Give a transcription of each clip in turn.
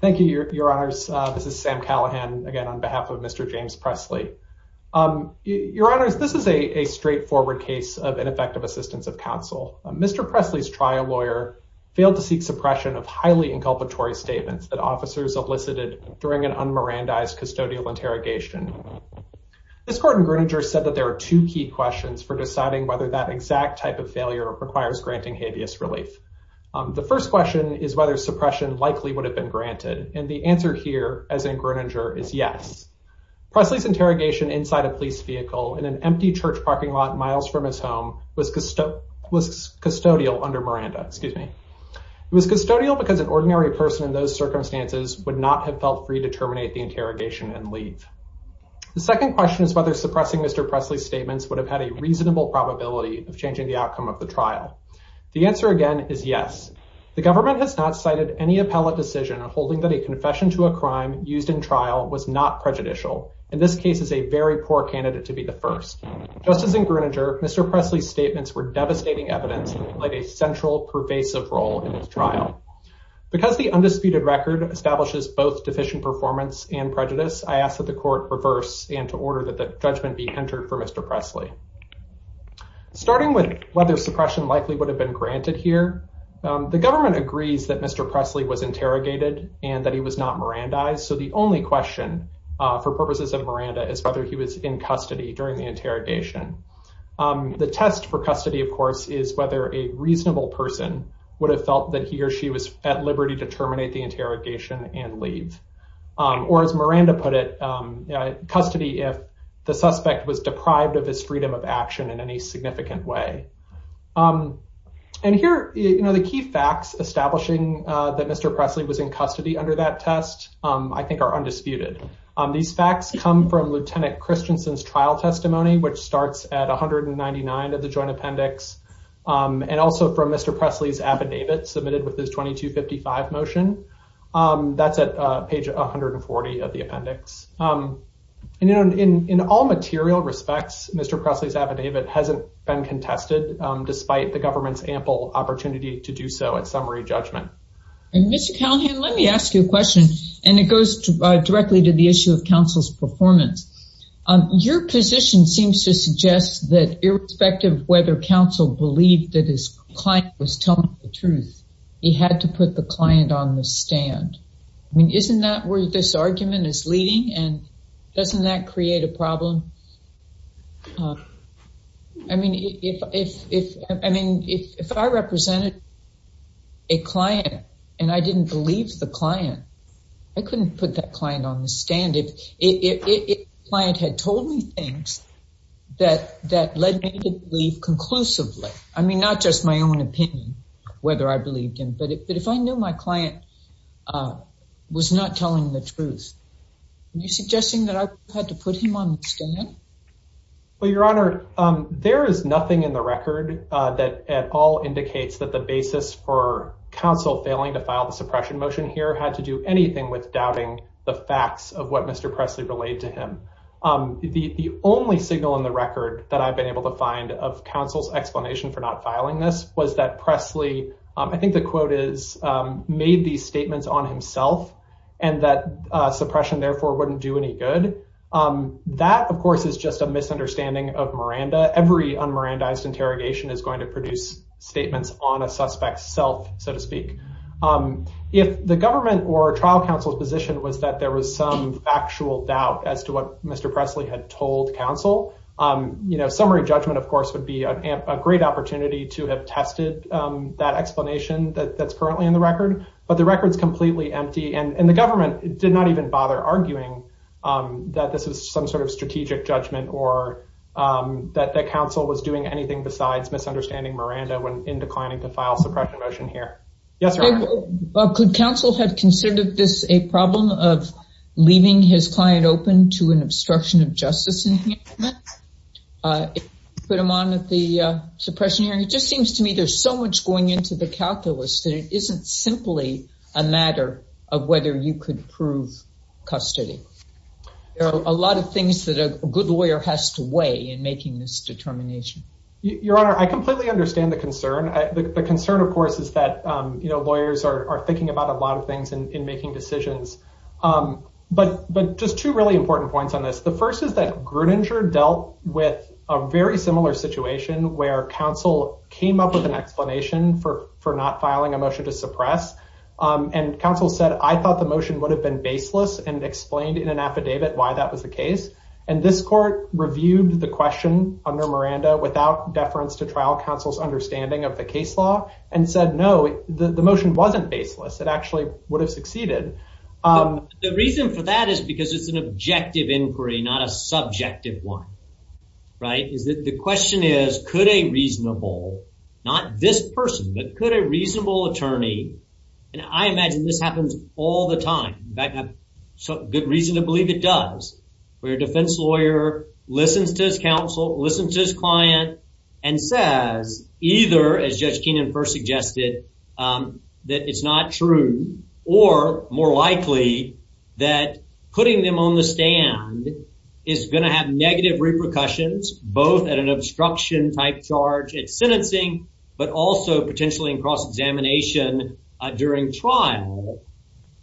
Thank you, Your Honors. This is Sam Callahan, again, on behalf of Mr. James Pressley. Your Honors, this is a straightforward case of ineffective assistance of counsel. Mr. Pressley's trial lawyer failed to seek suppression of highly inculpatory statements that officers elicited during an un-Mirandized custodial interrogation. This court in Greenwicher said that there are two key questions for deciding whether that exact type of failure requires granting habeas relief. The first question is whether suppression likely would have been granted, and the answer here, as in Greenwicher, is yes. Pressley's interrogation inside a police vehicle in an empty church parking lot miles from his home was custodial under Miranda. It was custodial because an ordinary person in those circumstances would not have felt free to terminate the interrogation and leave. The second question is whether suppressing Mr. Pressley's statements would have had a reasonable probability of changing the outcome of the trial. The answer, again, is yes. The government has not cited any appellate decision holding that a confession to a crime used in trial was not prejudicial. In this case, it is a very poor candidate to be the first. Just as in Greenwicher, Mr. Pressley's statements were devastating evidence and played a central, pervasive role in his trial. Because the undisputed record establishes both deficient performance and prejudice, I ask that the court reverse and to order that the suppression likely would have been granted here. The government agrees that Mr. Pressley was interrogated and that he was not Mirandized, so the only question for purposes of Miranda is whether he was in custody during the interrogation. The test for custody, of course, is whether a reasonable person would have felt that he or she was at liberty to terminate the interrogation and leave, or as Miranda put it, custody if the suspect was deprived of his freedom of action in any significant way. And here, you know, the key facts establishing that Mr. Pressley was in custody under that test, I think are undisputed. These facts come from Lieutenant Christensen's trial testimony, which starts at 199 of the joint appendix, and also from Mr. Pressley's affidavit submitted with this 2255 motion. That's at page 140 of the appendix. And, you know, in all material respects, Mr. Pressley's affidavit hasn't been contested, despite the government's ample opportunity to do so at summary judgment. Mr. Callahan, let me ask you a question, and it goes directly to the issue of counsel's performance. Your position seems to suggest that irrespective of whether counsel believed that his client was telling the truth, he had to put the client on the stand. I mean, this argument is leading, and doesn't that create a problem? I mean, if I represented a client, and I didn't believe the client, I couldn't put that client on the stand if the client had told me things that led me to believe conclusively. I mean, just my own opinion, whether I believed him, but if I knew my client was not telling the truth, are you suggesting that I had to put him on the stand? Well, Your Honor, there is nothing in the record that at all indicates that the basis for counsel failing to file the suppression motion here had to do anything with doubting the facts of what Mr. Pressley relayed to him. The only signal in the record that I've been able to find of counsel's explanation for not filing this was that Pressley, I think the quote is, made these statements on himself, and that suppression therefore wouldn't do any good. That, of course, is just a misunderstanding of Miranda. Every un-Miranda-ized interrogation is going to produce statements on a suspect's self, so to speak. If the government or trial counsel's position was that there was some factual doubt as to what Mr. Pressley had told counsel, you know, summary judgment, of course, would be a great opportunity to have tested that explanation that's currently in the record, but the record's completely empty, and the government did not even bother arguing that this is some sort of strategic judgment or that counsel was doing anything besides misunderstanding Miranda when in declining to file suppression motion here. Yes, Your Honor. Well, could counsel have considered this a problem of leaving his client open to an obstruction of justice? Put him on at the suppression hearing. It just seems to me there's so much going into the calculus that it isn't simply a matter of whether you could prove custody. There are a lot of things that a good lawyer has to weigh in making this determination. Your Honor, I completely understand the concern. The concern, of course, is that lawyers are thinking about a lot of things in making decisions, but just two really important points on this. The first is that Gruninger dealt with a very similar situation where counsel came up with an explanation for not filing a motion to suppress, and counsel said, I thought the motion would have been baseless and explained in an affidavit why that was the case, and this court reviewed the question under Miranda without deference to trial counsel's understanding of the case law and said, no, the motion wasn't baseless. It actually would have succeeded. The reason for that is because it's an objective inquiry, not a subjective one, right? The question is, could a reasonable, not this person, but could a reasonable attorney, and I imagine this happens all the time. In fact, a good reason to believe it does, where a defense lawyer listens to his counsel, listens to his client, and says either, as Judge Keenan first suggested, that it's not true, or more likely that putting them on the stand is going to have negative repercussions, both at an obstruction-type charge at sentencing, but also potentially in cross-examination during trial,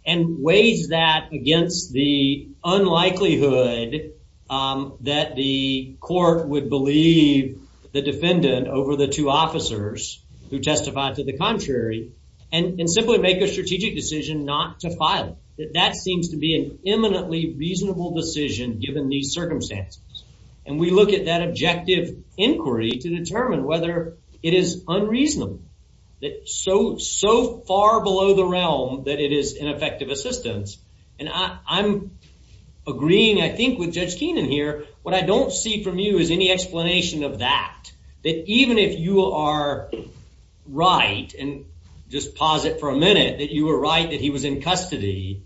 and weighs that against the unlikelihood that the court would believe the defendant over the two officers who testified to the contrary, and simply make a strategic decision not to file it. That seems to be an imminently reasonable decision given these circumstances, and we look at that objective inquiry to determine whether it is unreasonable, that so far below the realm that it is ineffective assistance, and I'm agreeing, I think, with Judge Keenan here. What I don't see from you is any explanation of that, that even if you are right, and just pause it for a minute, that you were right that he was in custody,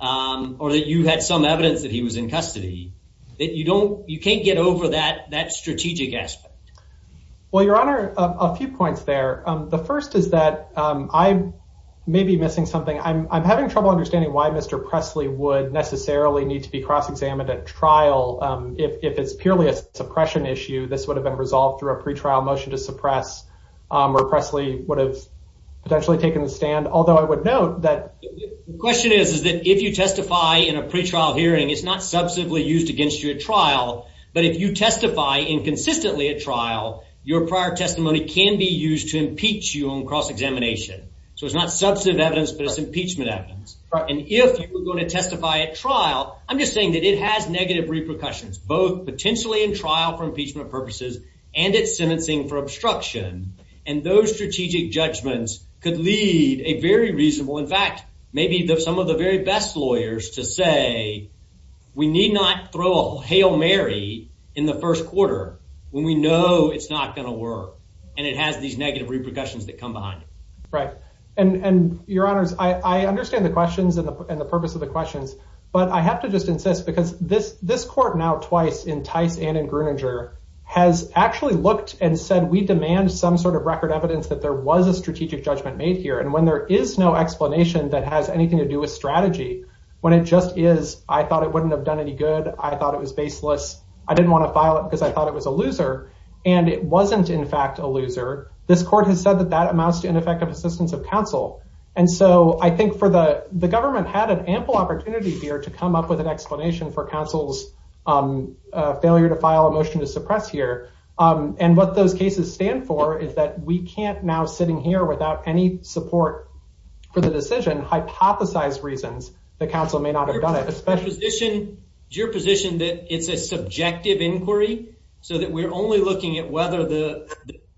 or that you had some evidence that he was in custody, that you can't get over that strategic aspect. Well, Your Honor, a few points there. The first is that I may be missing something. I'm having trouble understanding why Mr. Presley would necessarily need to be cross-examined at trial. If it's purely a suppression issue, this would have been resolved through a pretrial motion to suppress, or Presley would have potentially taken the stand, although I would note that... The question is, is that if you testify in a pretrial hearing, it's not used against you at trial, but if you testify inconsistently at trial, your prior testimony can be used to impeach you on cross-examination. So it's not substantive evidence, but it's impeachment evidence, and if you were going to testify at trial, I'm just saying that it has negative repercussions, both potentially in trial for impeachment purposes and at sentencing for obstruction, and those strategic judgments could lead a very reasonable... In fact, maybe some of the very best lawyers to say, we need not throw a Hail Mary in the first quarter when we know it's not going to work, and it has these negative repercussions that come behind it. Right, and Your Honors, I understand the questions and the purpose of the questions, but I have to just insist, because this court now twice in Tice and in Gruninger has actually looked and said, we demand some sort of record evidence that there was a strategic judgment made here, and when there is no explanation that has anything to do with strategy, when it just is, I thought it wouldn't have done any good, I thought it was baseless, I didn't want to file it because I thought it was a loser, and it wasn't in fact a loser, this court has said that that amounts to ineffective assistance of counsel, and so I think the government had an ample opportunity here to come up with an explanation for counsel's failure to file a motion to suppress here, and what those cases stand for is that we can't now sitting here without any support for the decision hypothesize reasons that counsel may not have done it. Is your position that it's a subjective inquiry, so that we're only looking at whether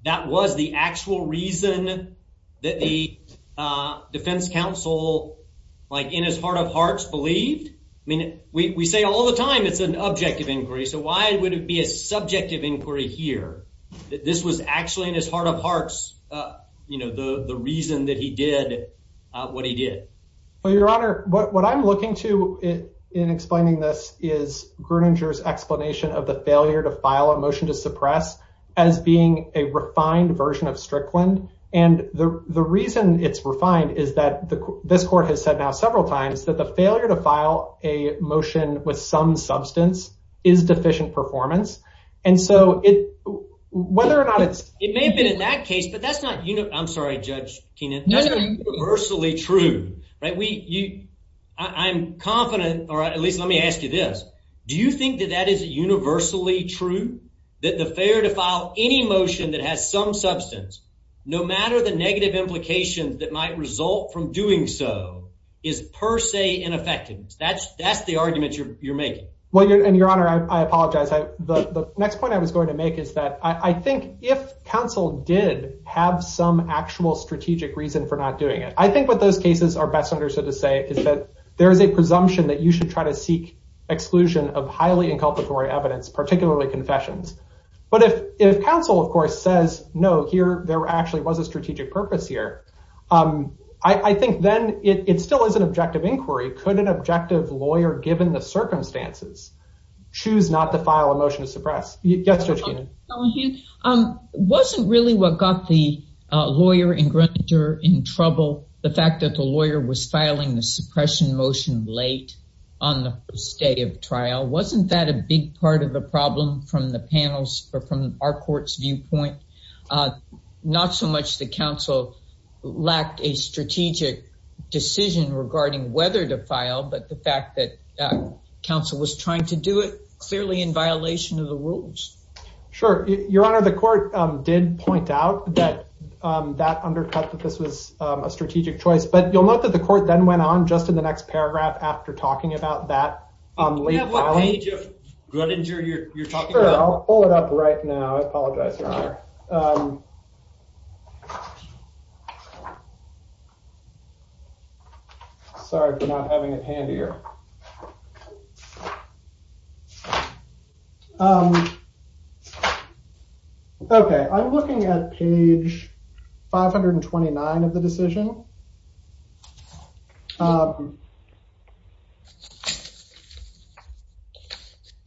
that was the actual reason that the defense counsel, like in his heart of hearts, believed? I mean, we say all the time it's an objective inquiry, so why would it be a subjective inquiry here, that this was actually in his heart of hearts, you know, the reason that he did what he did. Well, your honor, what I'm looking to in explaining this is Gruninger's explanation of the failure to file a motion to suppress as being a refined version of Strickland, and the reason it's refined is that this court has said now several times that the failure to file a motion with some substance is deficient performance, and so whether or not it's... It may have been in that case, but that's not, you know, I'm sorry, Judge Kenan, that's not universally true, right? I'm confident, or at least let me ask you this, do you think that that is universally true, that the failure to file any motion that has some substance, no matter the negative implications that might result from doing so, is per se ineffective? That's the argument you're making. Well, your honor, I apologize. The next point I was going to make is that I think if counsel did have some actual strategic reason for not doing it, I think what those cases are best understood to say is that there is a presumption that you should try to seek exclusion of highly inculpatory evidence, particularly confessions, but if counsel, of course, says, no, here there actually was a then it still is an objective inquiry. Could an objective lawyer, given the circumstances, choose not to file a motion to suppress? Yes, Judge Kenan. Wasn't really what got the lawyer in trouble the fact that the lawyer was filing the suppression motion late on the first day of trial? Wasn't that a big part of the problem from the panel's, from our court's viewpoint? Not so much that counsel lacked a strategic decision regarding whether to file, but the fact that counsel was trying to do it clearly in violation of the rules. Sure. Your honor, the court did point out that that undercut that this was a strategic choice, but you'll note that the court then went on just in the next paragraph after talking about that. What page, Gruttinger, you're talking about? I'll pull it up right now. I apologize, your honor. Sorry for not having it handier. Okay, I'm looking at page 529 of the decision.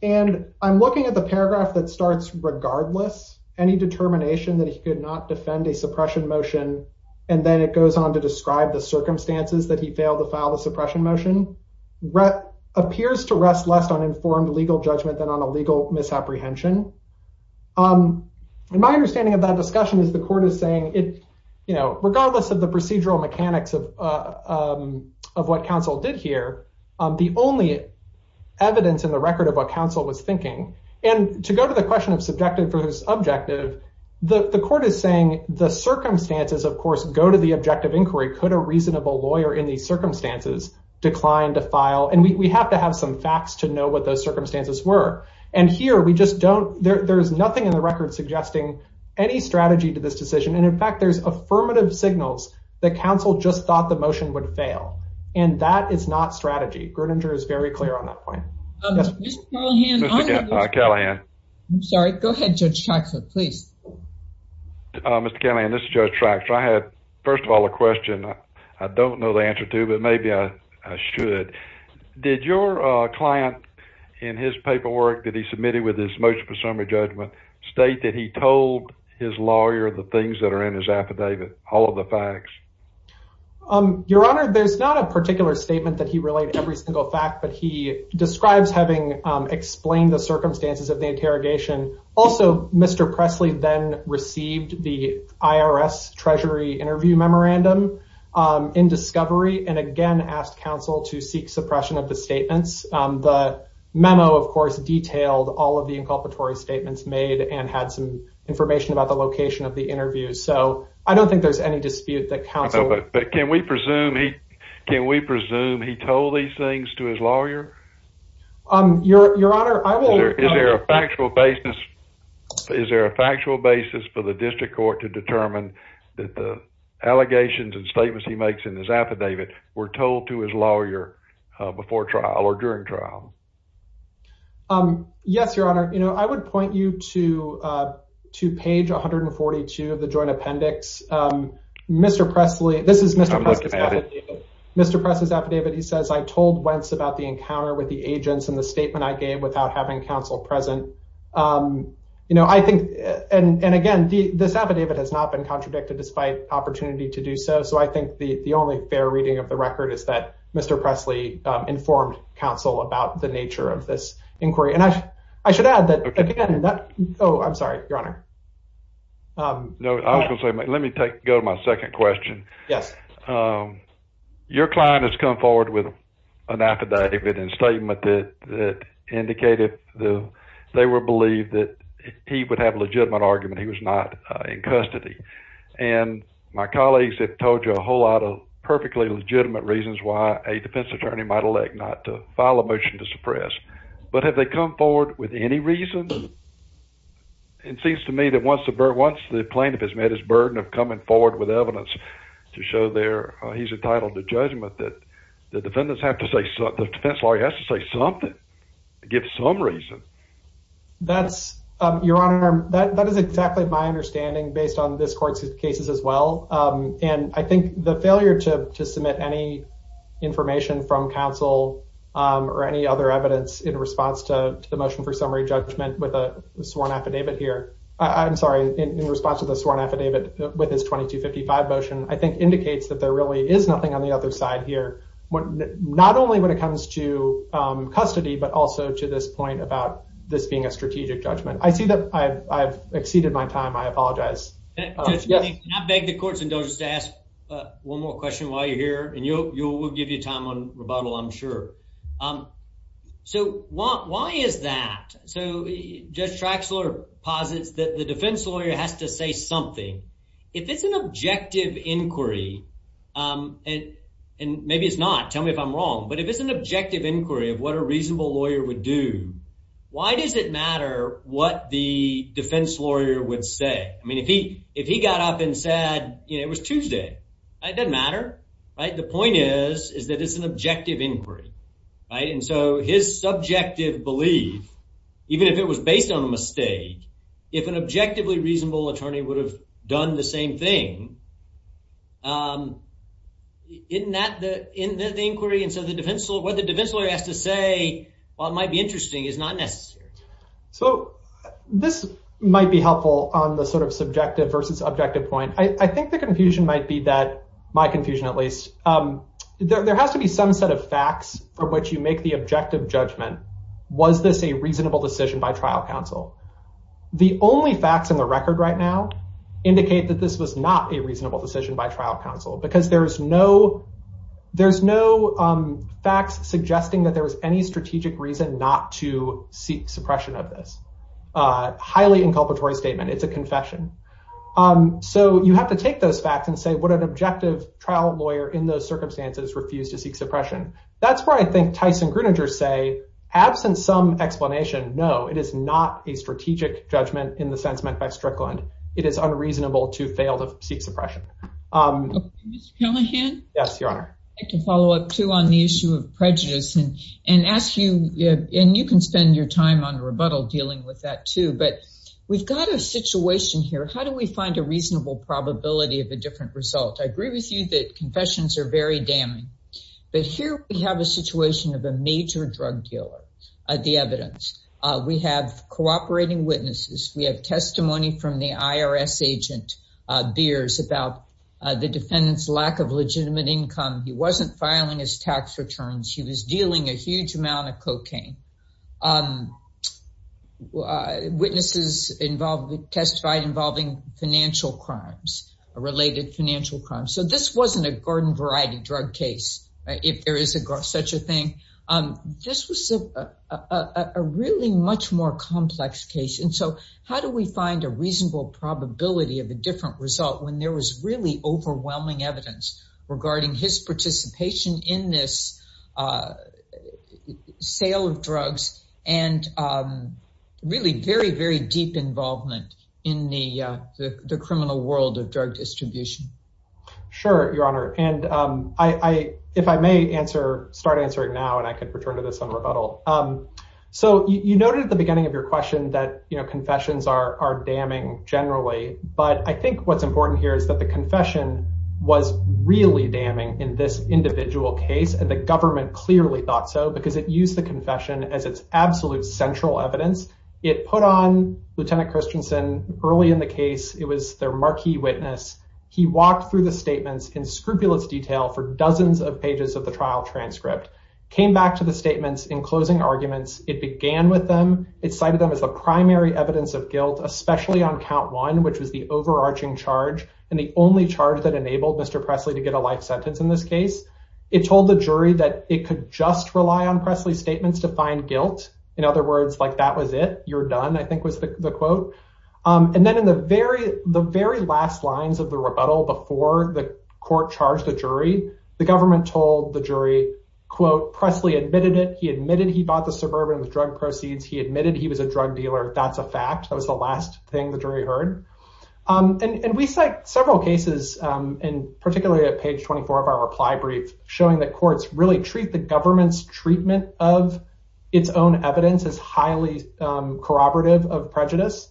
And I'm looking at the paragraph that starts, regardless any determination that he could not defend a suppression motion, and then it goes on to describe the circumstances that he failed to file the suppression motion, appears to rest less on informed legal judgment than on a legal misapprehension. And my understanding of that discussion is the court is saying it, you know, evidence in the record of what counsel was thinking. And to go to the question of subjective versus objective, the court is saying the circumstances, of course, go to the objective inquiry. Could a reasonable lawyer in these circumstances decline to file? And we have to have some facts to know what those circumstances were. And here we just don't, there's nothing in the record suggesting any strategy to this decision. And in fact, there's affirmative signals that counsel just thought the motion would fail. And that is not strategy. Gruttinger is very clear on that point. Mr. Callahan. I'm sorry. Go ahead, Judge Traxler, please. Mr. Callahan, this is Judge Traxler. I had, first of all, a question I don't know the answer to, but maybe I should. Did your client in his paperwork that he submitted with his motion for summary judgment state that he told his lawyer the things that are in his affidavit, all of the facts? Your Honor, there's not a particular statement that he relayed every single fact, but he describes having explained the circumstances of the interrogation. Also, Mr. Presley then received the IRS Treasury interview memorandum in discovery and again asked counsel to seek suppression of the statements. The memo, of course, detailed all of the inculpatory statements made and had some information about the location of the interview. I don't think there's any dispute that counsel... But can we presume he told these things to his lawyer? Your Honor, I will... Is there a factual basis for the district court to determine that the allegations and statements he makes in his affidavit were told to his lawyer before trial or during trial? Yes, Your Honor. I would point you to page 142 of the Appendix. Mr. Presley... This is Mr. Presley's affidavit. Mr. Presley's affidavit, he says, I told Wentz about the encounter with the agents and the statement I gave without having counsel present. You know, I think... And again, this affidavit has not been contradicted despite opportunity to do so. So I think the only fair reading of the record is that Mr. Presley informed counsel about the nature of this inquiry. And I should add that... Oh, I'm sorry, Your Honor. No, I was going to say, let me go to my second question. Yes. Your client has come forward with an affidavit and statement that indicated they were believed that he would have a legitimate argument he was not in custody. And my colleagues have told you a whole lot of perfectly legitimate reasons why a defense attorney might elect not to file a motion to suppress. But have they come forward with any reasons? It seems to me that once the plaintiff has met his burden of coming forward with evidence to show they're... He's entitled to judgment that the defendants have to say... The defense lawyer has to say something, give some reason. That's... Your Honor, that is exactly my understanding based on this court's cases as well. And I think the failure to submit any information from counsel or any other evidence in response to the motion for summary judgment with a sworn affidavit here... I'm sorry, in response to the sworn affidavit with his 2255 motion, I think indicates that there really is nothing on the other side here. Not only when it comes to custody, but also to this point about this being a strategic judgment. I see that I've exceeded my time. I apologize. Can I beg the courts indulgence to ask one more question while you're here? And we'll give you time on rebuttal, I'm sure. So why is that? So Judge Traxler posits that the defense lawyer has to say something. If it's an objective inquiry, and maybe it's not, tell me if I'm wrong, but if it's an objective inquiry of what a reasonable lawyer would do, why does it matter what the defense lawyer would say? I mean, if he got up and said, it was Tuesday, it doesn't matter. The point is, is that it's an objective inquiry. And so his subjective belief, even if it was based on a mistake, if an objectively reasonable attorney would have done the same thing, isn't that the inquiry? And so what the defense lawyer has to say, while it might be interesting, is not necessary. So this might be helpful on the sort of subjective versus objective point. I think the confusion might be that, my confusion at least, there has to be some set of facts from which you make the objective judgment. Was this a reasonable decision by trial counsel? The only facts in the record right now indicate that this was not a reasonable decision by trial counsel, because there's no facts suggesting that there was any strategic reason not to seek suppression of this. Highly inculpatory statement. It's a confession. So you have to take those facts and say, would an objective trial lawyer in those circumstances refuse to seek suppression? That's where I think Tyson Gruninger say, absent some explanation, no, it is not a strategic judgment in the sense meant by Strickland. It is unreasonable to fail to seek suppression. Mr. Callahan? Yes, Your Honor. I'd like to follow up, too, on the issue of prejudice and ask you, and you can spend your time on rebuttal dealing with that, too, but we've got a situation here. How do we find a reasonable probability of a different result? I agree with you that confessions are very damning, but here we have a situation of a major drug dealer, the evidence. We have cooperating witnesses. We have testimony from the IRS agent Beers about the defendant's lack of legitimate income. He wasn't filing his tax returns. He was huge amount of cocaine. Witnesses testified involving financial crimes, related financial crimes. So this wasn't a garden variety drug case, if there is such a thing. This was a really much more complex case, and so how do we find a reasonable probability of a different result when there was really overwhelming evidence regarding his participation in this sale of drugs and really very, very deep involvement in the criminal world of drug distribution? Sure, Your Honor, and if I may start answering now, and I can return to this on rebuttal. So you noted at the beginning of your question that confessions are damning generally, but I think what's important here is that the confession was really damning in this individual case, and the government clearly thought so because it used the confession as its absolute central evidence. It put on Lieutenant Christensen early in the case. It was their marquee witness. He walked through the statements in scrupulous detail for dozens of pages of the trial transcript, came back to the statements in closing arguments. It began with them. It cited them as the primary evidence of guilt, especially on count one, which was the overarching charge and the only charge that enabled Mr. Presley to get a life sentence in this case. It told the jury that it could just rely on Presley's statements to find guilt. In other words, like, that was it. You're done, I think was the quote. And then in the very last lines of the rebuttal before the court charged the jury, the government told the jury, quote, Presley admitted it. He admitted he bought the Suburban with drug proceeds. He admitted he was a drug dealer. That's a fact. That was the last thing the jury heard. And we cite several cases, and particularly at page 24 of our reply brief, showing that courts really treat the government's treatment of its own evidence as highly corroborative of prejudice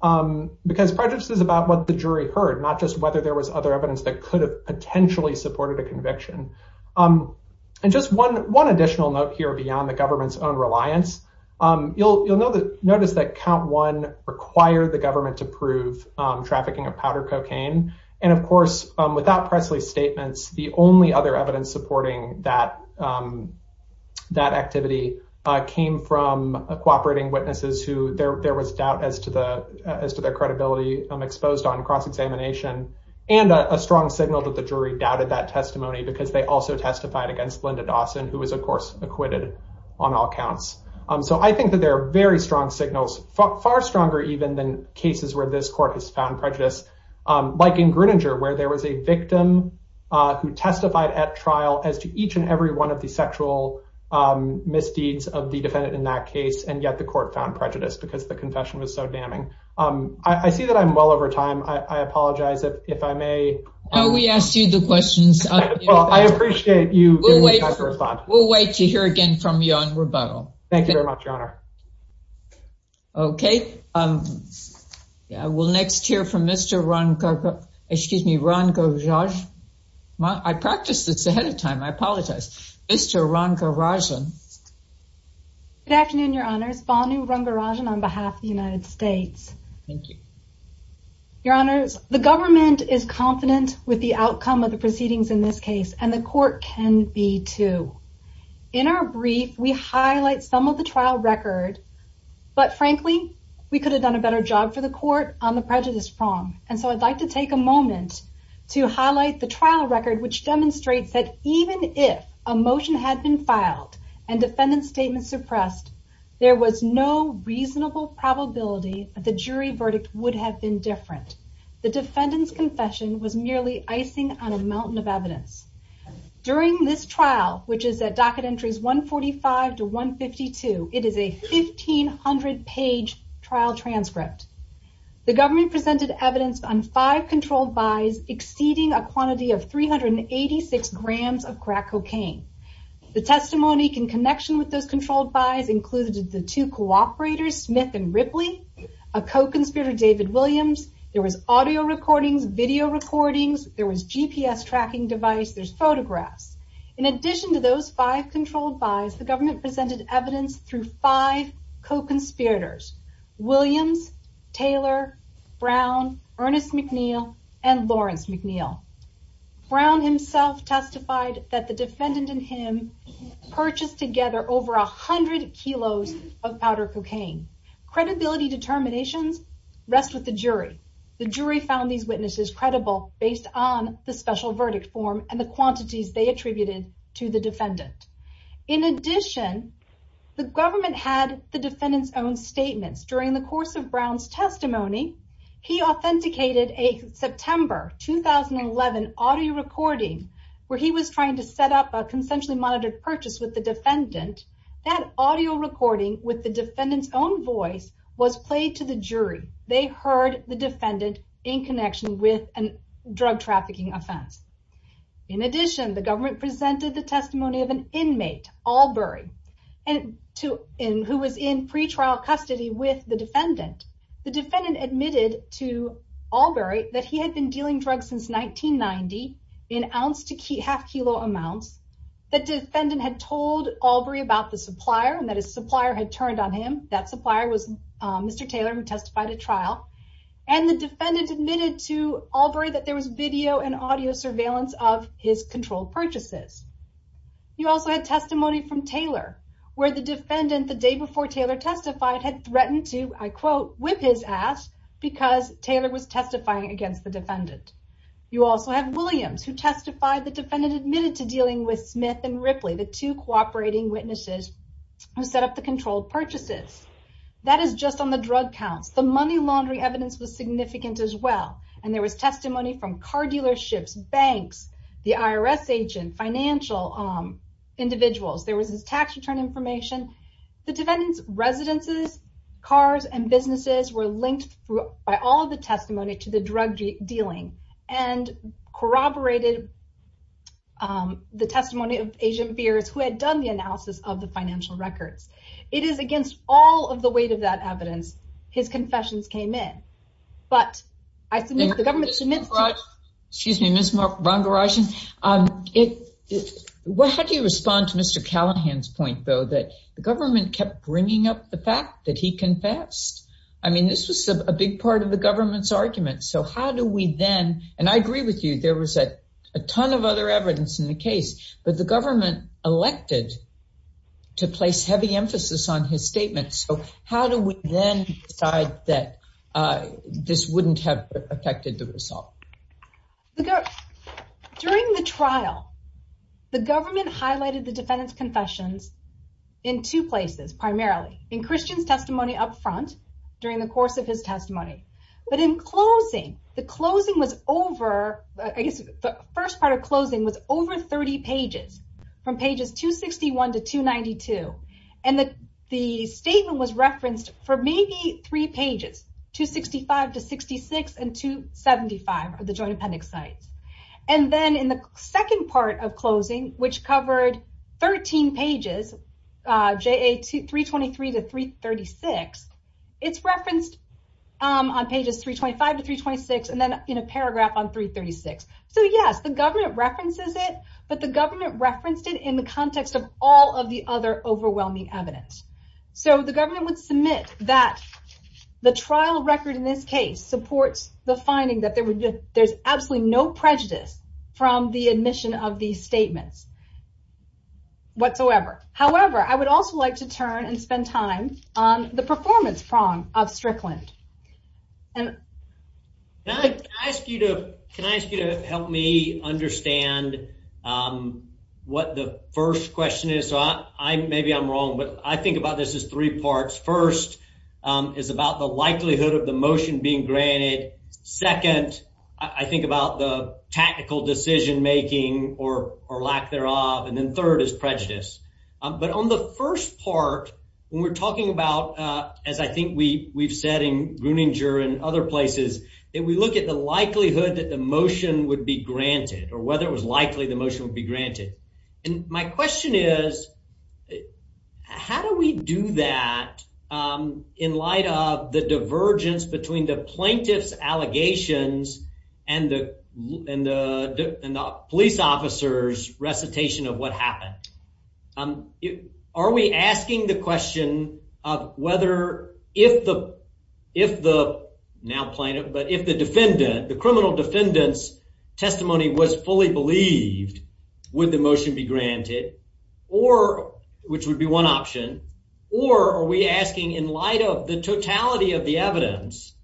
because prejudice is about what the jury heard, not just whether there was other evidence that could have potentially supported a conviction. And just one additional note here beyond the government's own reliance. You'll notice that count one required the government to prove trafficking of powder cocaine. And of course, without Presley's statements, the only other evidence supporting that activity came from cooperating witnesses who there was doubt as to their credibility exposed on cross-examination and a strong signal that the jury doubted that testimony because they also testified against Linda Dawson, who was, of course, acquitted on all counts. So I think that there are very strong signals, far stronger even than cases where this court has found prejudice, like in Gruninger, where there was a victim who testified at trial as to each and every one of the sexual misdeeds of the defendant in that case. And yet the court found prejudice because the confession was so damning. I see that I'm well over time. I apologize if I may. We asked you the questions. I appreciate you. We'll wait to hear again from you on rebuttal. Thank you very much, Your Honor. Okay. We'll next hear from Mr. Ranga Rajan. I practiced this ahead of time. I apologize. Mr. Ranga Rajan. Good afternoon, Your Honors. Bhanu Ranga Rajan on behalf of the United States. Thank you. Your Honors, the government is confident with the outcome of the proceedings in this case, and the court can be too. In our brief, we highlight some of the trial record, but frankly, we could have done a better job for the court on the prejudice prong. And so I'd like to take a moment to highlight the trial record, which demonstrates that even if a motion had been filed and defendant's statement suppressed, there was no reasonable probability that the jury verdict would have been different. The defendant's confession was merely icing on a mountain of evidence. During this trial, which is at docket entries 145 to 152, it is a 1,500-page trial transcript. The government presented evidence on five controlled buys exceeding a quantity of 386 grams of crack cocaine. The testimony in connection with those controlled buys included the two cooperators, Smith and Ripley, a co-conspirator, David Williams. There was audio recordings, video recordings. There was GPS tracking device. There's photographs. In addition to those five controlled buys, the government presented evidence through five co-conspirators, Williams, Taylor, Brown, Ernest McNeil, and Lawrence McNeil. Brown himself testified that the defendant and him purchased together over 100 kilos of powder cocaine. Credibility determinations rest with the jury. The jury found these witnesses credible based on the special verdict form and the quantities they attributed to the defendant. In addition, the government had the defendant's own statements. During the course of Brown's audio recording, where he was trying to set up a consensually monitored purchase with the defendant, that audio recording with the defendant's own voice was played to the jury. They heard the defendant in connection with a drug trafficking offense. In addition, the government presented the testimony of an inmate, Albury, who was in pretrial custody with the defendant. The defendant admitted to Albury that he had been dealing drugs since 1990 in ounce to half kilo amounts. The defendant had told Albury about the supplier, and that his supplier had turned on him. That supplier was Mr. Taylor, who testified at trial. The defendant admitted to Albury that there was video and audio surveillance of his controlled purchases. He also had testimony from Taylor, where the defendant, the day before Taylor testified, had threatened to, I quote, whip his ass because Taylor was testifying against the defendant. You also have Williams, who testified the defendant admitted to dealing with Smith and Ripley, the two cooperating witnesses who set up the controlled purchases. That is just on the drug counts. The money laundering evidence was significant as well, and there was testimony from car dealerships, banks, the IRS agent, financial individuals. There was his tax return information. The defendant's residences, cars, and businesses were linked by all of the testimony to the drug dealing, and corroborated the testimony of Agent Beers, who had done the analysis of the financial records. It is against all of the weight of that evidence his confessions came in, but the government submits to- Excuse me, Ms. Rangarajan. How do you respond to Mr. Callahan's point, though, that the government kept bringing up the fact that he confessed? I mean, this was a big part of the government's argument, so how do we then, and I agree with you, there was a ton of other evidence in the case, but the government elected to place heavy emphasis on his statement, so how do we then decide that this wouldn't have affected the result? During the trial, the government highlighted the defendant's confessions in two places, primarily in Christian's testimony up front, during the course of his testimony, but in closing, the closing was over, I guess the first part of closing was over 30 pages, from pages 261 to 292, and the statement was referenced for maybe three pages, 265 to 66, and 275 of the joint appendix sites, and then in the second part of closing, which covered 13 pages, JA 323 to 336, it's referenced on pages 325 to 326, and then in a paragraph on 336, so yes, the government references it, but the government referenced it in the context of all of the other overwhelming evidence, so the government would submit that the trial record in this case supports the finding that there's absolutely no prejudice from the admission of these statements whatsoever. However, I would also like to turn and spend time on the performance prong of Strickland. Can I ask you to help me understand what the first question is? Maybe I'm wrong, but I think about this as three parts. First, it's about the likelihood of the motion being granted. Second, I think about the tactical decision making or lack thereof, and then third is prejudice, but on the first part, when we're talking about, as I think we've said in Gruninger and other places, that we look at the likelihood that the motion would be granted, or whether it was likely the motion would be granted, and my question is, how do we do that in light of the divergence between the plaintiff's allegations and the police officer's recitation of what happened? Are we asking the question of whether if the, now plaintiff, but if the defendant, the criminal defendant's believed, would the motion be granted, which would be one option, or are we asking in light of the totality of the evidence,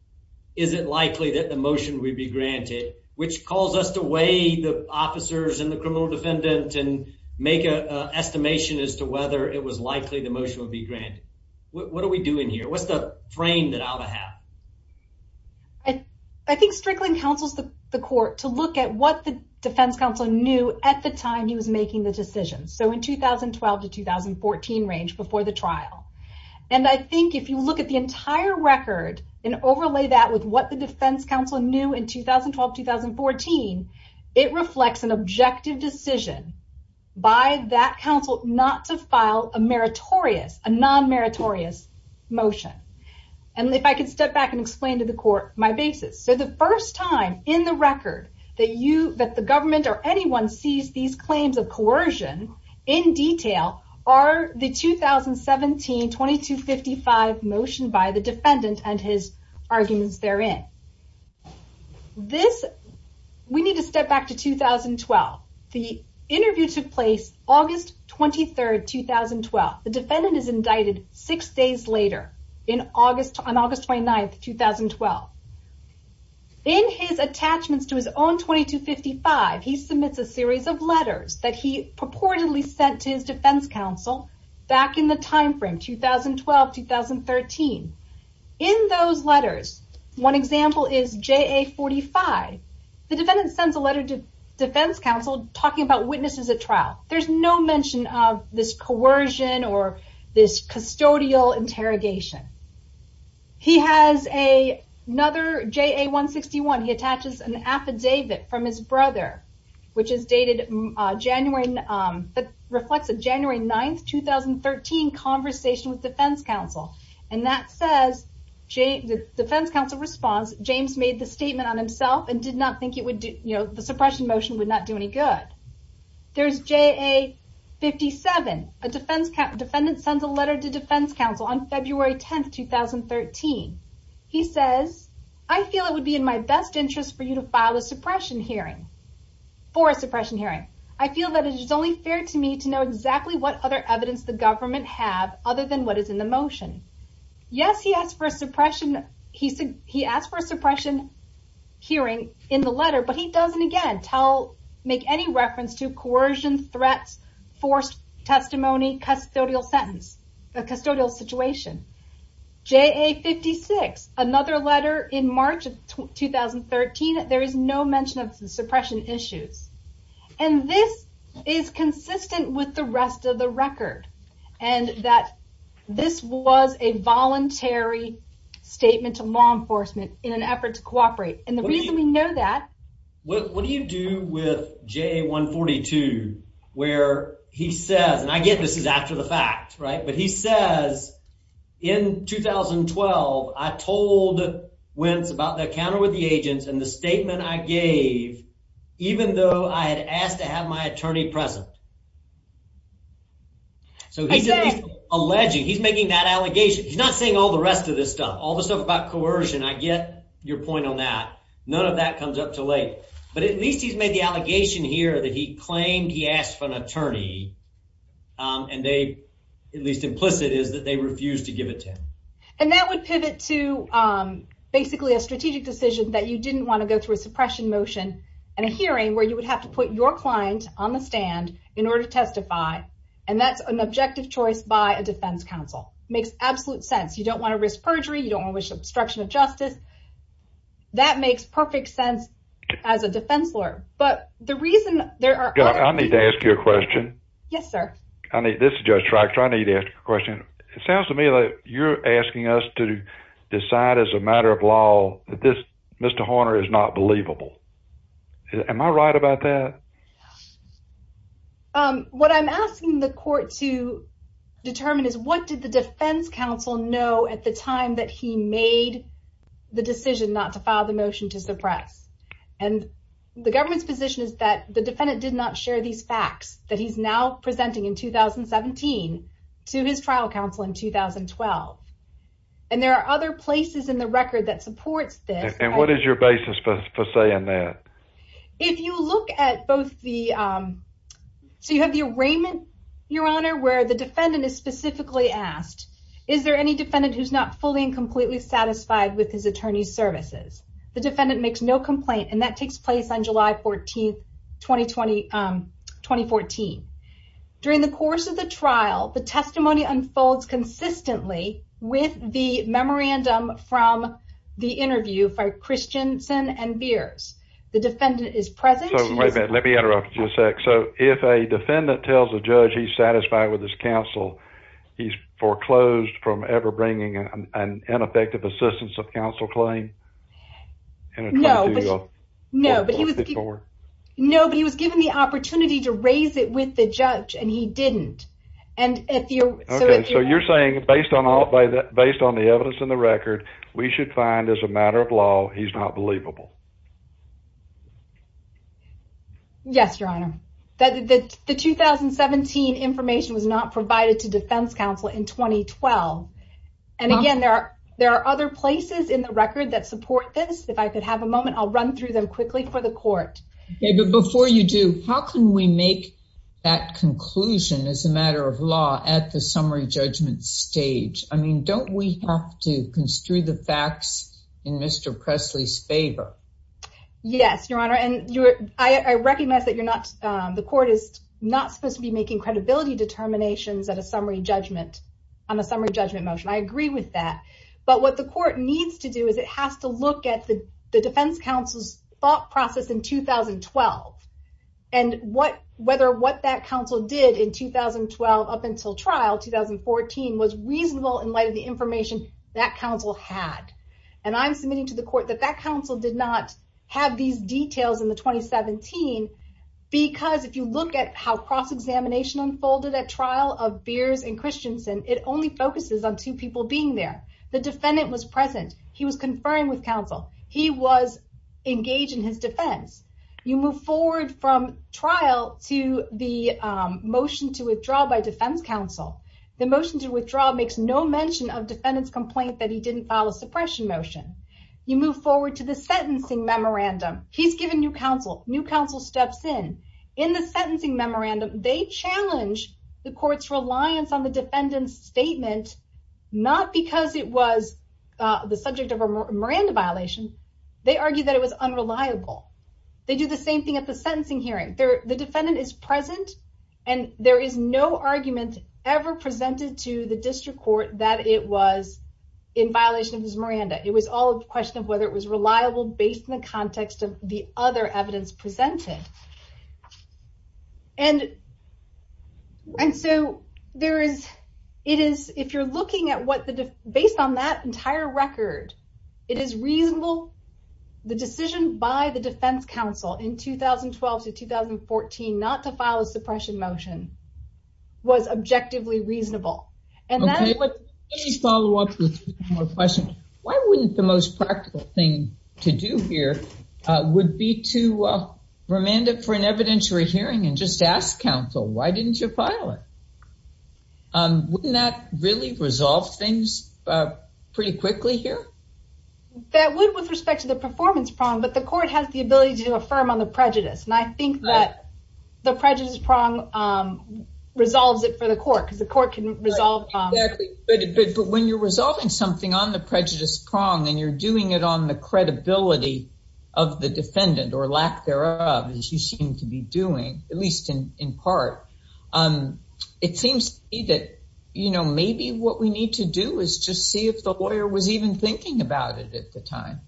is it likely that the motion would be granted, which calls us to weigh the officers and the criminal defendant and make an estimation as to whether it was likely the motion would be granted. What are we doing here? What's the frame that ought to have? I think Strickland counsels the court to look at what the defense counsel knew at the time he was making the decision, so in 2012 to 2014 range, before the trial, and I think if you look at the entire record and overlay that with what the defense counsel knew in 2012-2014, it reflects an objective decision by that counsel not to file a meritorious, a non-meritorious motion, and if I could step back and explain to the court my basis. So the first time in the record that you, that the government or anyone sees these claims of coercion in detail are the 2017-2255 motion by the defendant and his arguments therein. This, we need to step back to 2012. The interview took place August 23, 2012. The defendant is indicted six days later on August 29, 2012. In his attachments to his own 2255, he submits a series of letters that he purportedly sent to his defense counsel back in the time frame 2012-2013. In those letters, one example is JA-45. The defendant sends a letter to defense counsel talking about witnesses at trial. There's no mention of this coercion or this custodial interrogation. He has another JA-161. He attaches an affidavit from his brother, which is dated January, that reflects a January 9, 2013 conversation with defense counsel, and that says, the defense counsel responds, James made the statement on himself and did not think the suppression motion would not do any good. There's JA-57. The defendant sends a letter to defense counsel on February 10, 2013. He says, I feel it would be in my best interest for you to file a suppression hearing, for a suppression hearing. I feel that it is only fair to me to know exactly what other evidence the government have, other than what is in the motion. Yes, he asked for a suppression hearing in the letter, but he doesn't, again, make any reference to coercion, threats, forced testimony, custodial sentence, a custodial situation. JA-56, another letter in March of 2013, there is no mention of suppression issues. This is consistent with the rest of the record, and that this was a voluntary statement to law enforcement in an effort to cooperate. The reason we know that- What do you do with JA-142, where he says, and I get this is after the fact, but he says, in 2012, I told Wentz about the encounter with the agents and the statement I gave, even though I had asked to have my attorney present. So he's alleging, he's making that allegation. He's not saying all the rest of this stuff, all the stuff about coercion. I get your point on that. None of that comes up too late, but at least he's made the allegation here that he claimed he asked for an attorney, and they, at least implicit, is that they refused to give it to him. And that would pivot to basically a strategic decision that you didn't want to go through a suppression motion and a hearing where you would have to put your client on the stand in order to testify, and that's an objective choice by a defense counsel. Makes absolute sense. You don't want to risk perjury. You don't want to risk obstruction of justice. That makes perfect sense as a defense lawyer, but the reason there are- I need to ask you a question. Yes, sir. This is Judge Traktor. I need to ask you a question. It sounds to me like you're asking us to decide as a matter of law that this, Mr. Horner, is not believable. Am I right about that? What I'm asking the court to determine is what did the defense counsel know at the time that he made the decision not to file the motion to suppress? And the government's position is that the defendant did not share these facts that he's now presenting in 2017 to his trial counsel in 2012. And there are other places in the record that supports this. And what is your basis for saying that? If you look at both the- so you have the arraignment, Your Honor, where the defendant is specifically asked, is there any defendant who's not fully and completely satisfied with his attorney's services? The defendant makes no complaint, and that takes place on July 14, 2014. During the course of the trial, the testimony unfolds consistently with the memorandum from the interview for Christensen and Beers. The defendant is present- So, wait a minute. Let me interrupt you a sec. So, if a defendant tells a judge he's satisfied with his counsel, he's foreclosed from ever bringing an ineffective assistance of counsel claim? No, but he was given the opportunity to raise it with the judge, and he didn't. So, you're saying, based on the evidence in the record, we should find, as a matter of law, he's not believable? Yes, Your Honor. The 2017 information was not provided to defense counsel in 2012. And again, there are other places in the record that support this. If I could have a moment, I'll run through them quickly for the court. Okay, but before you do, how can we make that conclusion, as a matter of law, at the summary judgment stage? I mean, don't we have to construe the facts in Mr. Presley's favor? Yes, Your Honor, and I recognize that the court is not supposed to be making credibility determinations on a summary judgment motion. I agree with that, but what the court needs to do is it has to look at the defense counsel's thought process in 2012, and whether what that counsel did in 2012 up until trial, 2014, was reasonable in light of information that counsel had. And I'm submitting to the court that that counsel did not have these details in the 2017, because if you look at how cross-examination unfolded at trial of Beers and Christensen, it only focuses on two people being there. The defendant was present. He was conferring with counsel. He was engaged in his defense. You move forward from trial to the motion to defendant's complaint that he didn't file a suppression motion. You move forward to the sentencing memorandum. He's given new counsel. New counsel steps in. In the sentencing memorandum, they challenge the court's reliance on the defendant's statement, not because it was the subject of a Miranda violation. They argue that it was unreliable. They do the same thing at the sentencing hearing. The defendant is present, and there is no argument ever presented to the district court that it was in violation of his Miranda. It was all a question of whether it was reliable based on the context of the other evidence presented. Based on that entire record, it is reasonable. The decision by the defense counsel in 2012 to 2014 not to file a suppression motion was objectively reasonable. Why wouldn't the most practical thing to do here would be to remand it for an evidentiary hearing and just ask counsel, why didn't you file it? Wouldn't that really resolve things pretty quickly here? That would with respect to the performance prong, but the court has the ability to affirm on the prejudice. I think that the resolves it for the court. When you're resolving something on the prejudice prong, and you're doing it on the credibility of the defendant or lack thereof, as you seem to be doing, at least in part, it seems to me that maybe what we need to do is just see if the lawyer was even thinking about it at the time.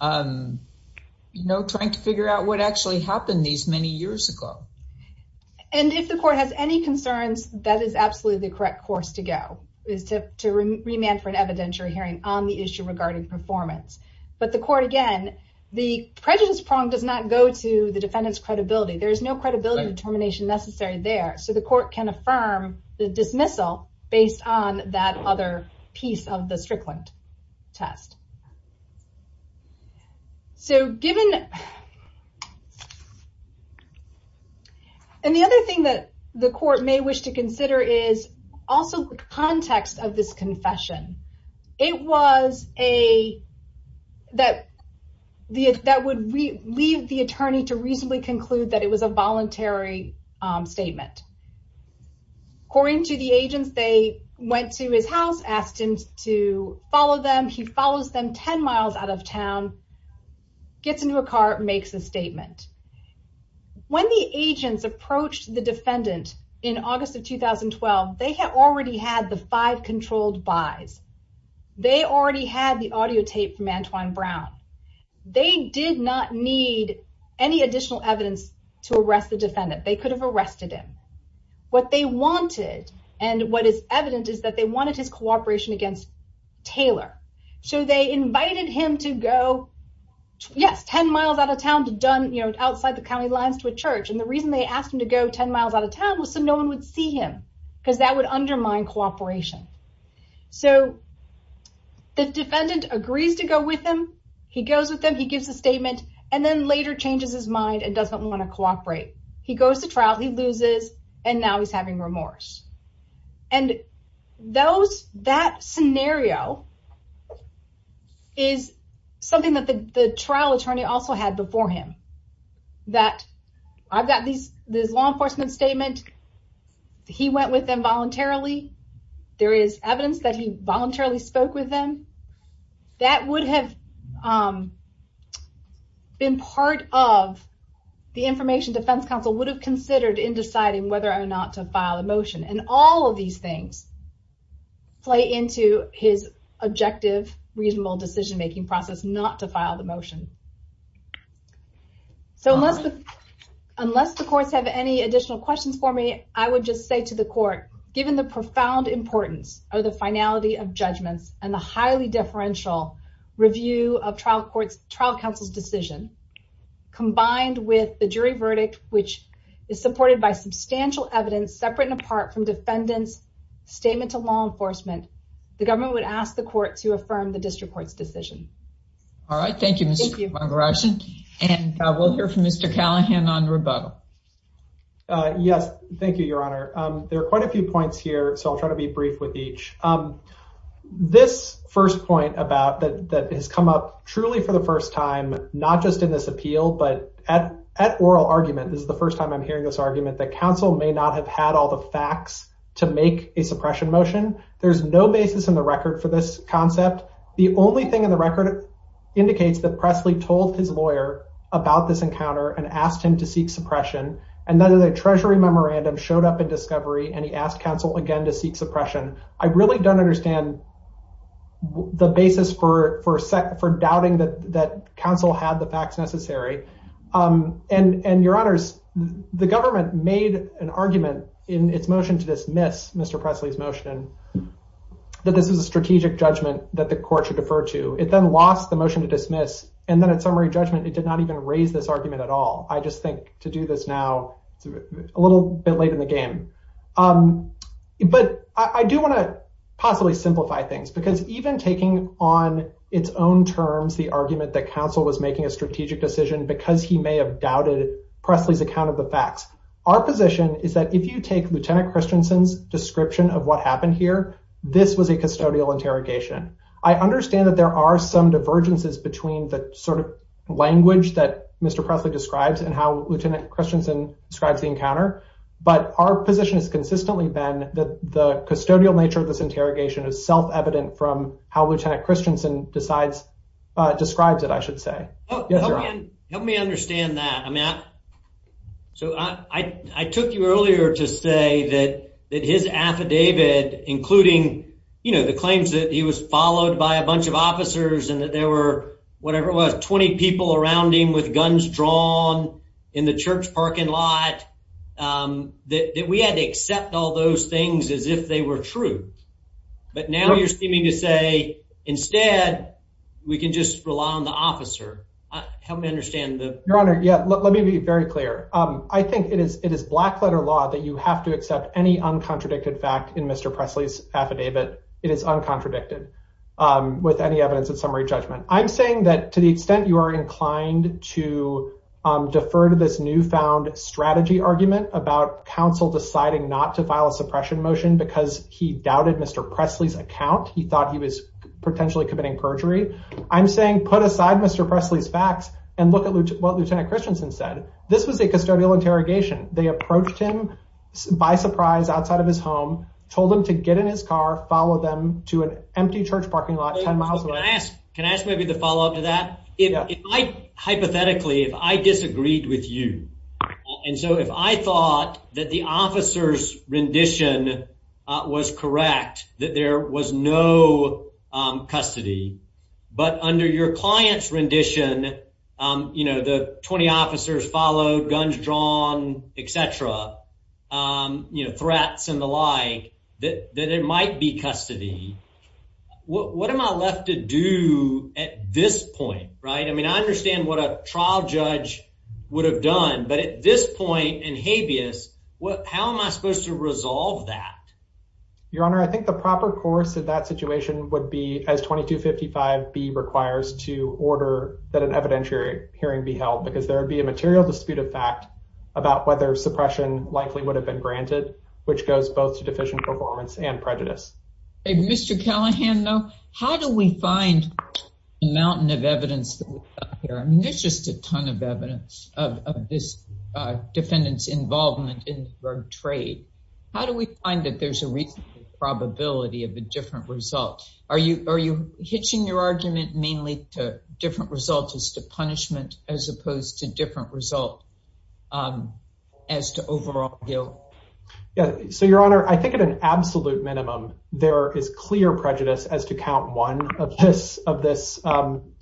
Trying to figure out what actually happened these many years ago. If the court has any concerns, that is absolutely the correct course to go, is to remand for an evidentiary hearing on the issue regarding performance. But the court, again, the prejudice prong does not go to the defendant's credibility. There's no credibility determination necessary there, so the court can affirm the dismissal based on that other piece of the Strickland test. The other thing that the court may wish to consider is also the context of this confession. It was that would leave the attorney to reasonably conclude that it was a voluntary statement. According to the agents, they went to his house, asked him to follow them. He follows them 10 miles out of town, gets into a car, makes a statement. When the agents approached the defendant in August of 2012, they had already had the five controlled buys. They already had the audio tape from Antoine Brown. They did not need any additional evidence to arrest the defendant. They could have arrested him. What they wanted, and what is evident, is that they wanted his cooperation against Taylor. They invited him to go, yes, 10 miles out of town, outside the county lines to a church. The reason they asked him to go 10 miles out of town was so no one would see him, because that would undermine cooperation. The defendant agrees to go with him. He goes with and then later changes his mind and doesn't want to cooperate. He goes to trial, he loses, and now he's having remorse. That scenario is something that the trial attorney also had before him. I've got this law enforcement statement. He went with them voluntarily. There is evidence that he voluntarily spoke with them. That would have been part of the information Defense Counsel would have considered in deciding whether or not to file a motion. All of these things play into his objective, reasonable decision making process not to file the motion. Unless the courts have any additional questions for me, I would just say to the court, given the profound importance of the finality of judgments and the highly differential review of trial counsel's decision, combined with the jury verdict, which is supported by substantial evidence separate and apart from defendant's statement to law enforcement, the government would ask the court to affirm the district court's decision. All right, thank you, Mr. McGrath. We'll hear from Mr. Callahan on rebuttal. Yes, thank you, Your Honor. There are quite a few points here, so I'll try to be brief with each. This first point that has come up truly for the first time, not just in this appeal, but at oral argument, this is the first time I'm hearing this argument, that counsel may not have had all the facts to make a suppression motion. There's no basis in the record for this concept. The only thing in the record indicates that Presley told his lawyer about this encounter and asked him to seek suppression, and then the treasury memorandum showed up in discovery, and he asked counsel again to seek suppression. I really don't understand the basis for doubting that counsel had the facts necessary. And, Your Honors, the government made an argument in its motion to dismiss Mr. Presley's motion, that this is a strategic judgment that the court should defer to. It then lost the motion to I just think to do this now, it's a little bit late in the game. But I do want to possibly simplify things, because even taking on its own terms the argument that counsel was making a strategic decision because he may have doubted Presley's account of the facts, our position is that if you take Lieutenant Christensen's description of what happened here, this was a custodial interrogation. I understand that there are some divergences between the sort of language that and how Lieutenant Christensen describes the encounter, but our position has consistently been that the custodial nature of this interrogation is self-evident from how Lieutenant Christensen describes it, I should say. Help me understand that. I took you earlier to say that his affidavit, including the claims that he was followed by a bunch of officers and that there were whatever it was, 20 people around him with guns drawn in the church parking lot, that we had to accept all those things as if they were true. But now you're seeming to say instead, we can just rely on the officer. Help me understand that. Your Honor, yeah, let me be very clear. I think it is black letter law that you have to accept any uncontradicted fact in Mr. Presley's affidavit. It is uncontradicted with any evidence of summary judgment. I'm saying that to the extent you are inclined to defer to this newfound strategy argument about counsel deciding not to file a suppression motion because he doubted Mr. Presley's account, he thought he was potentially committing perjury. I'm saying put aside Mr. Presley's facts and look at what Lieutenant Christensen said. This was a custodial interrogation. They approached him by surprise outside of his home, told him to get in his car, follow them to an empty church parking lot 10 miles away. Can I ask maybe the follow-up to that? Hypothetically, if I disagreed with you, and so if I thought that the officer's rendition was correct, that there was no custody, but under your client's rendition, the 20 officers followed, guns drawn, et cetera, um, you know, threats and the like, that, that it might be custody. What am I left to do at this point, right? I mean, I understand what a trial judge would have done, but at this point in habeas, what, how am I supposed to resolve that? Your Honor, I think the proper course of that situation would be as 2255B requires to order that an evidentiary hearing be held because there would be a material dispute of fact about whether suppression likely would have been granted, which goes both to deficient performance and prejudice. Mr. Callahan, though, how do we find a mountain of evidence here? I mean, there's just a ton of evidence of this defendant's involvement in drug trade. How do we find that there's a reasonable probability of a different result? Are you, are you hitching your argument mainly to different results as to punishment as opposed to different result, um, as to overall guilt? Yeah. So Your Honor, I think at an absolute minimum, there is clear prejudice as to count one of this, of this, um,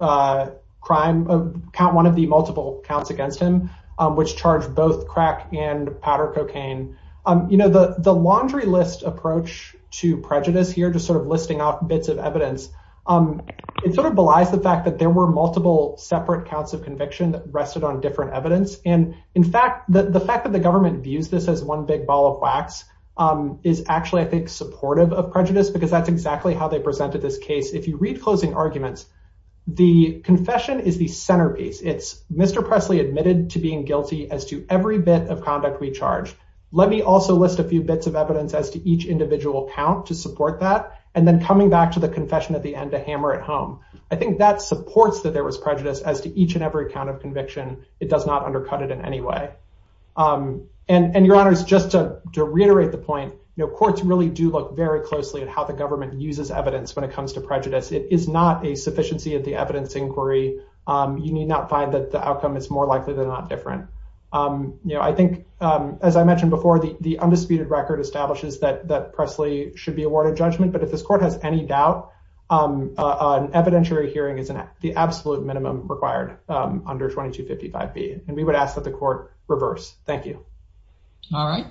uh, crime of count one of the multiple counts against him, um, which charged both crack and powder cocaine. Um, you know, the, the laundry list approach to prejudice here, just sort of listing off bits of evidence, um, it sort of belies the fact that there were multiple separate counts of conviction that rested on different evidence. And in fact, the fact that the government views this as one big ball of wax, um, is actually, I think, supportive of prejudice because that's exactly how they presented this case. If you read closing arguments, the confession is the centerpiece. It's Mr. Presley admitted to being guilty as to every bit of conduct we charge. Let me also list a few bits of evidence as to each individual count to support that. And then coming back to the confession at the end to hammer at home. I think that supports that there was prejudice as to each and every account of conviction. It does not undercut it in any way. Um, and, and Your Honor, just to reiterate the point, you know, courts really do look very closely at how the government uses evidence when it comes to prejudice. It is not a sufficiency of the evidence inquiry. Um, you need not find that the outcome is more likely than not different. Um, you know, I think, um, as I mentioned before, the, the undisputed record establishes that, that Presley should be um, uh, an evidentiary hearing is the absolute minimum required, um, under 2255B. And we would ask that the court reverse. Thank you. All right.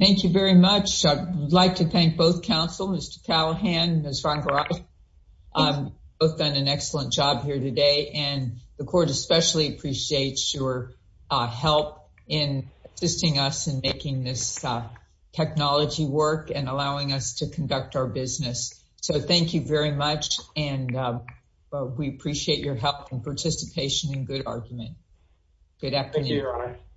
Thank you very much. I'd like to thank both counsel, Mr. Callahan and Ms. Van Goraal. Um, both done an excellent job here today and the court especially appreciates your, uh, help in assisting us in making this, uh, technology work and allowing us to conduct our business. So thank you very much. And, um, uh, we appreciate your help and participation in good argument. Good afternoon.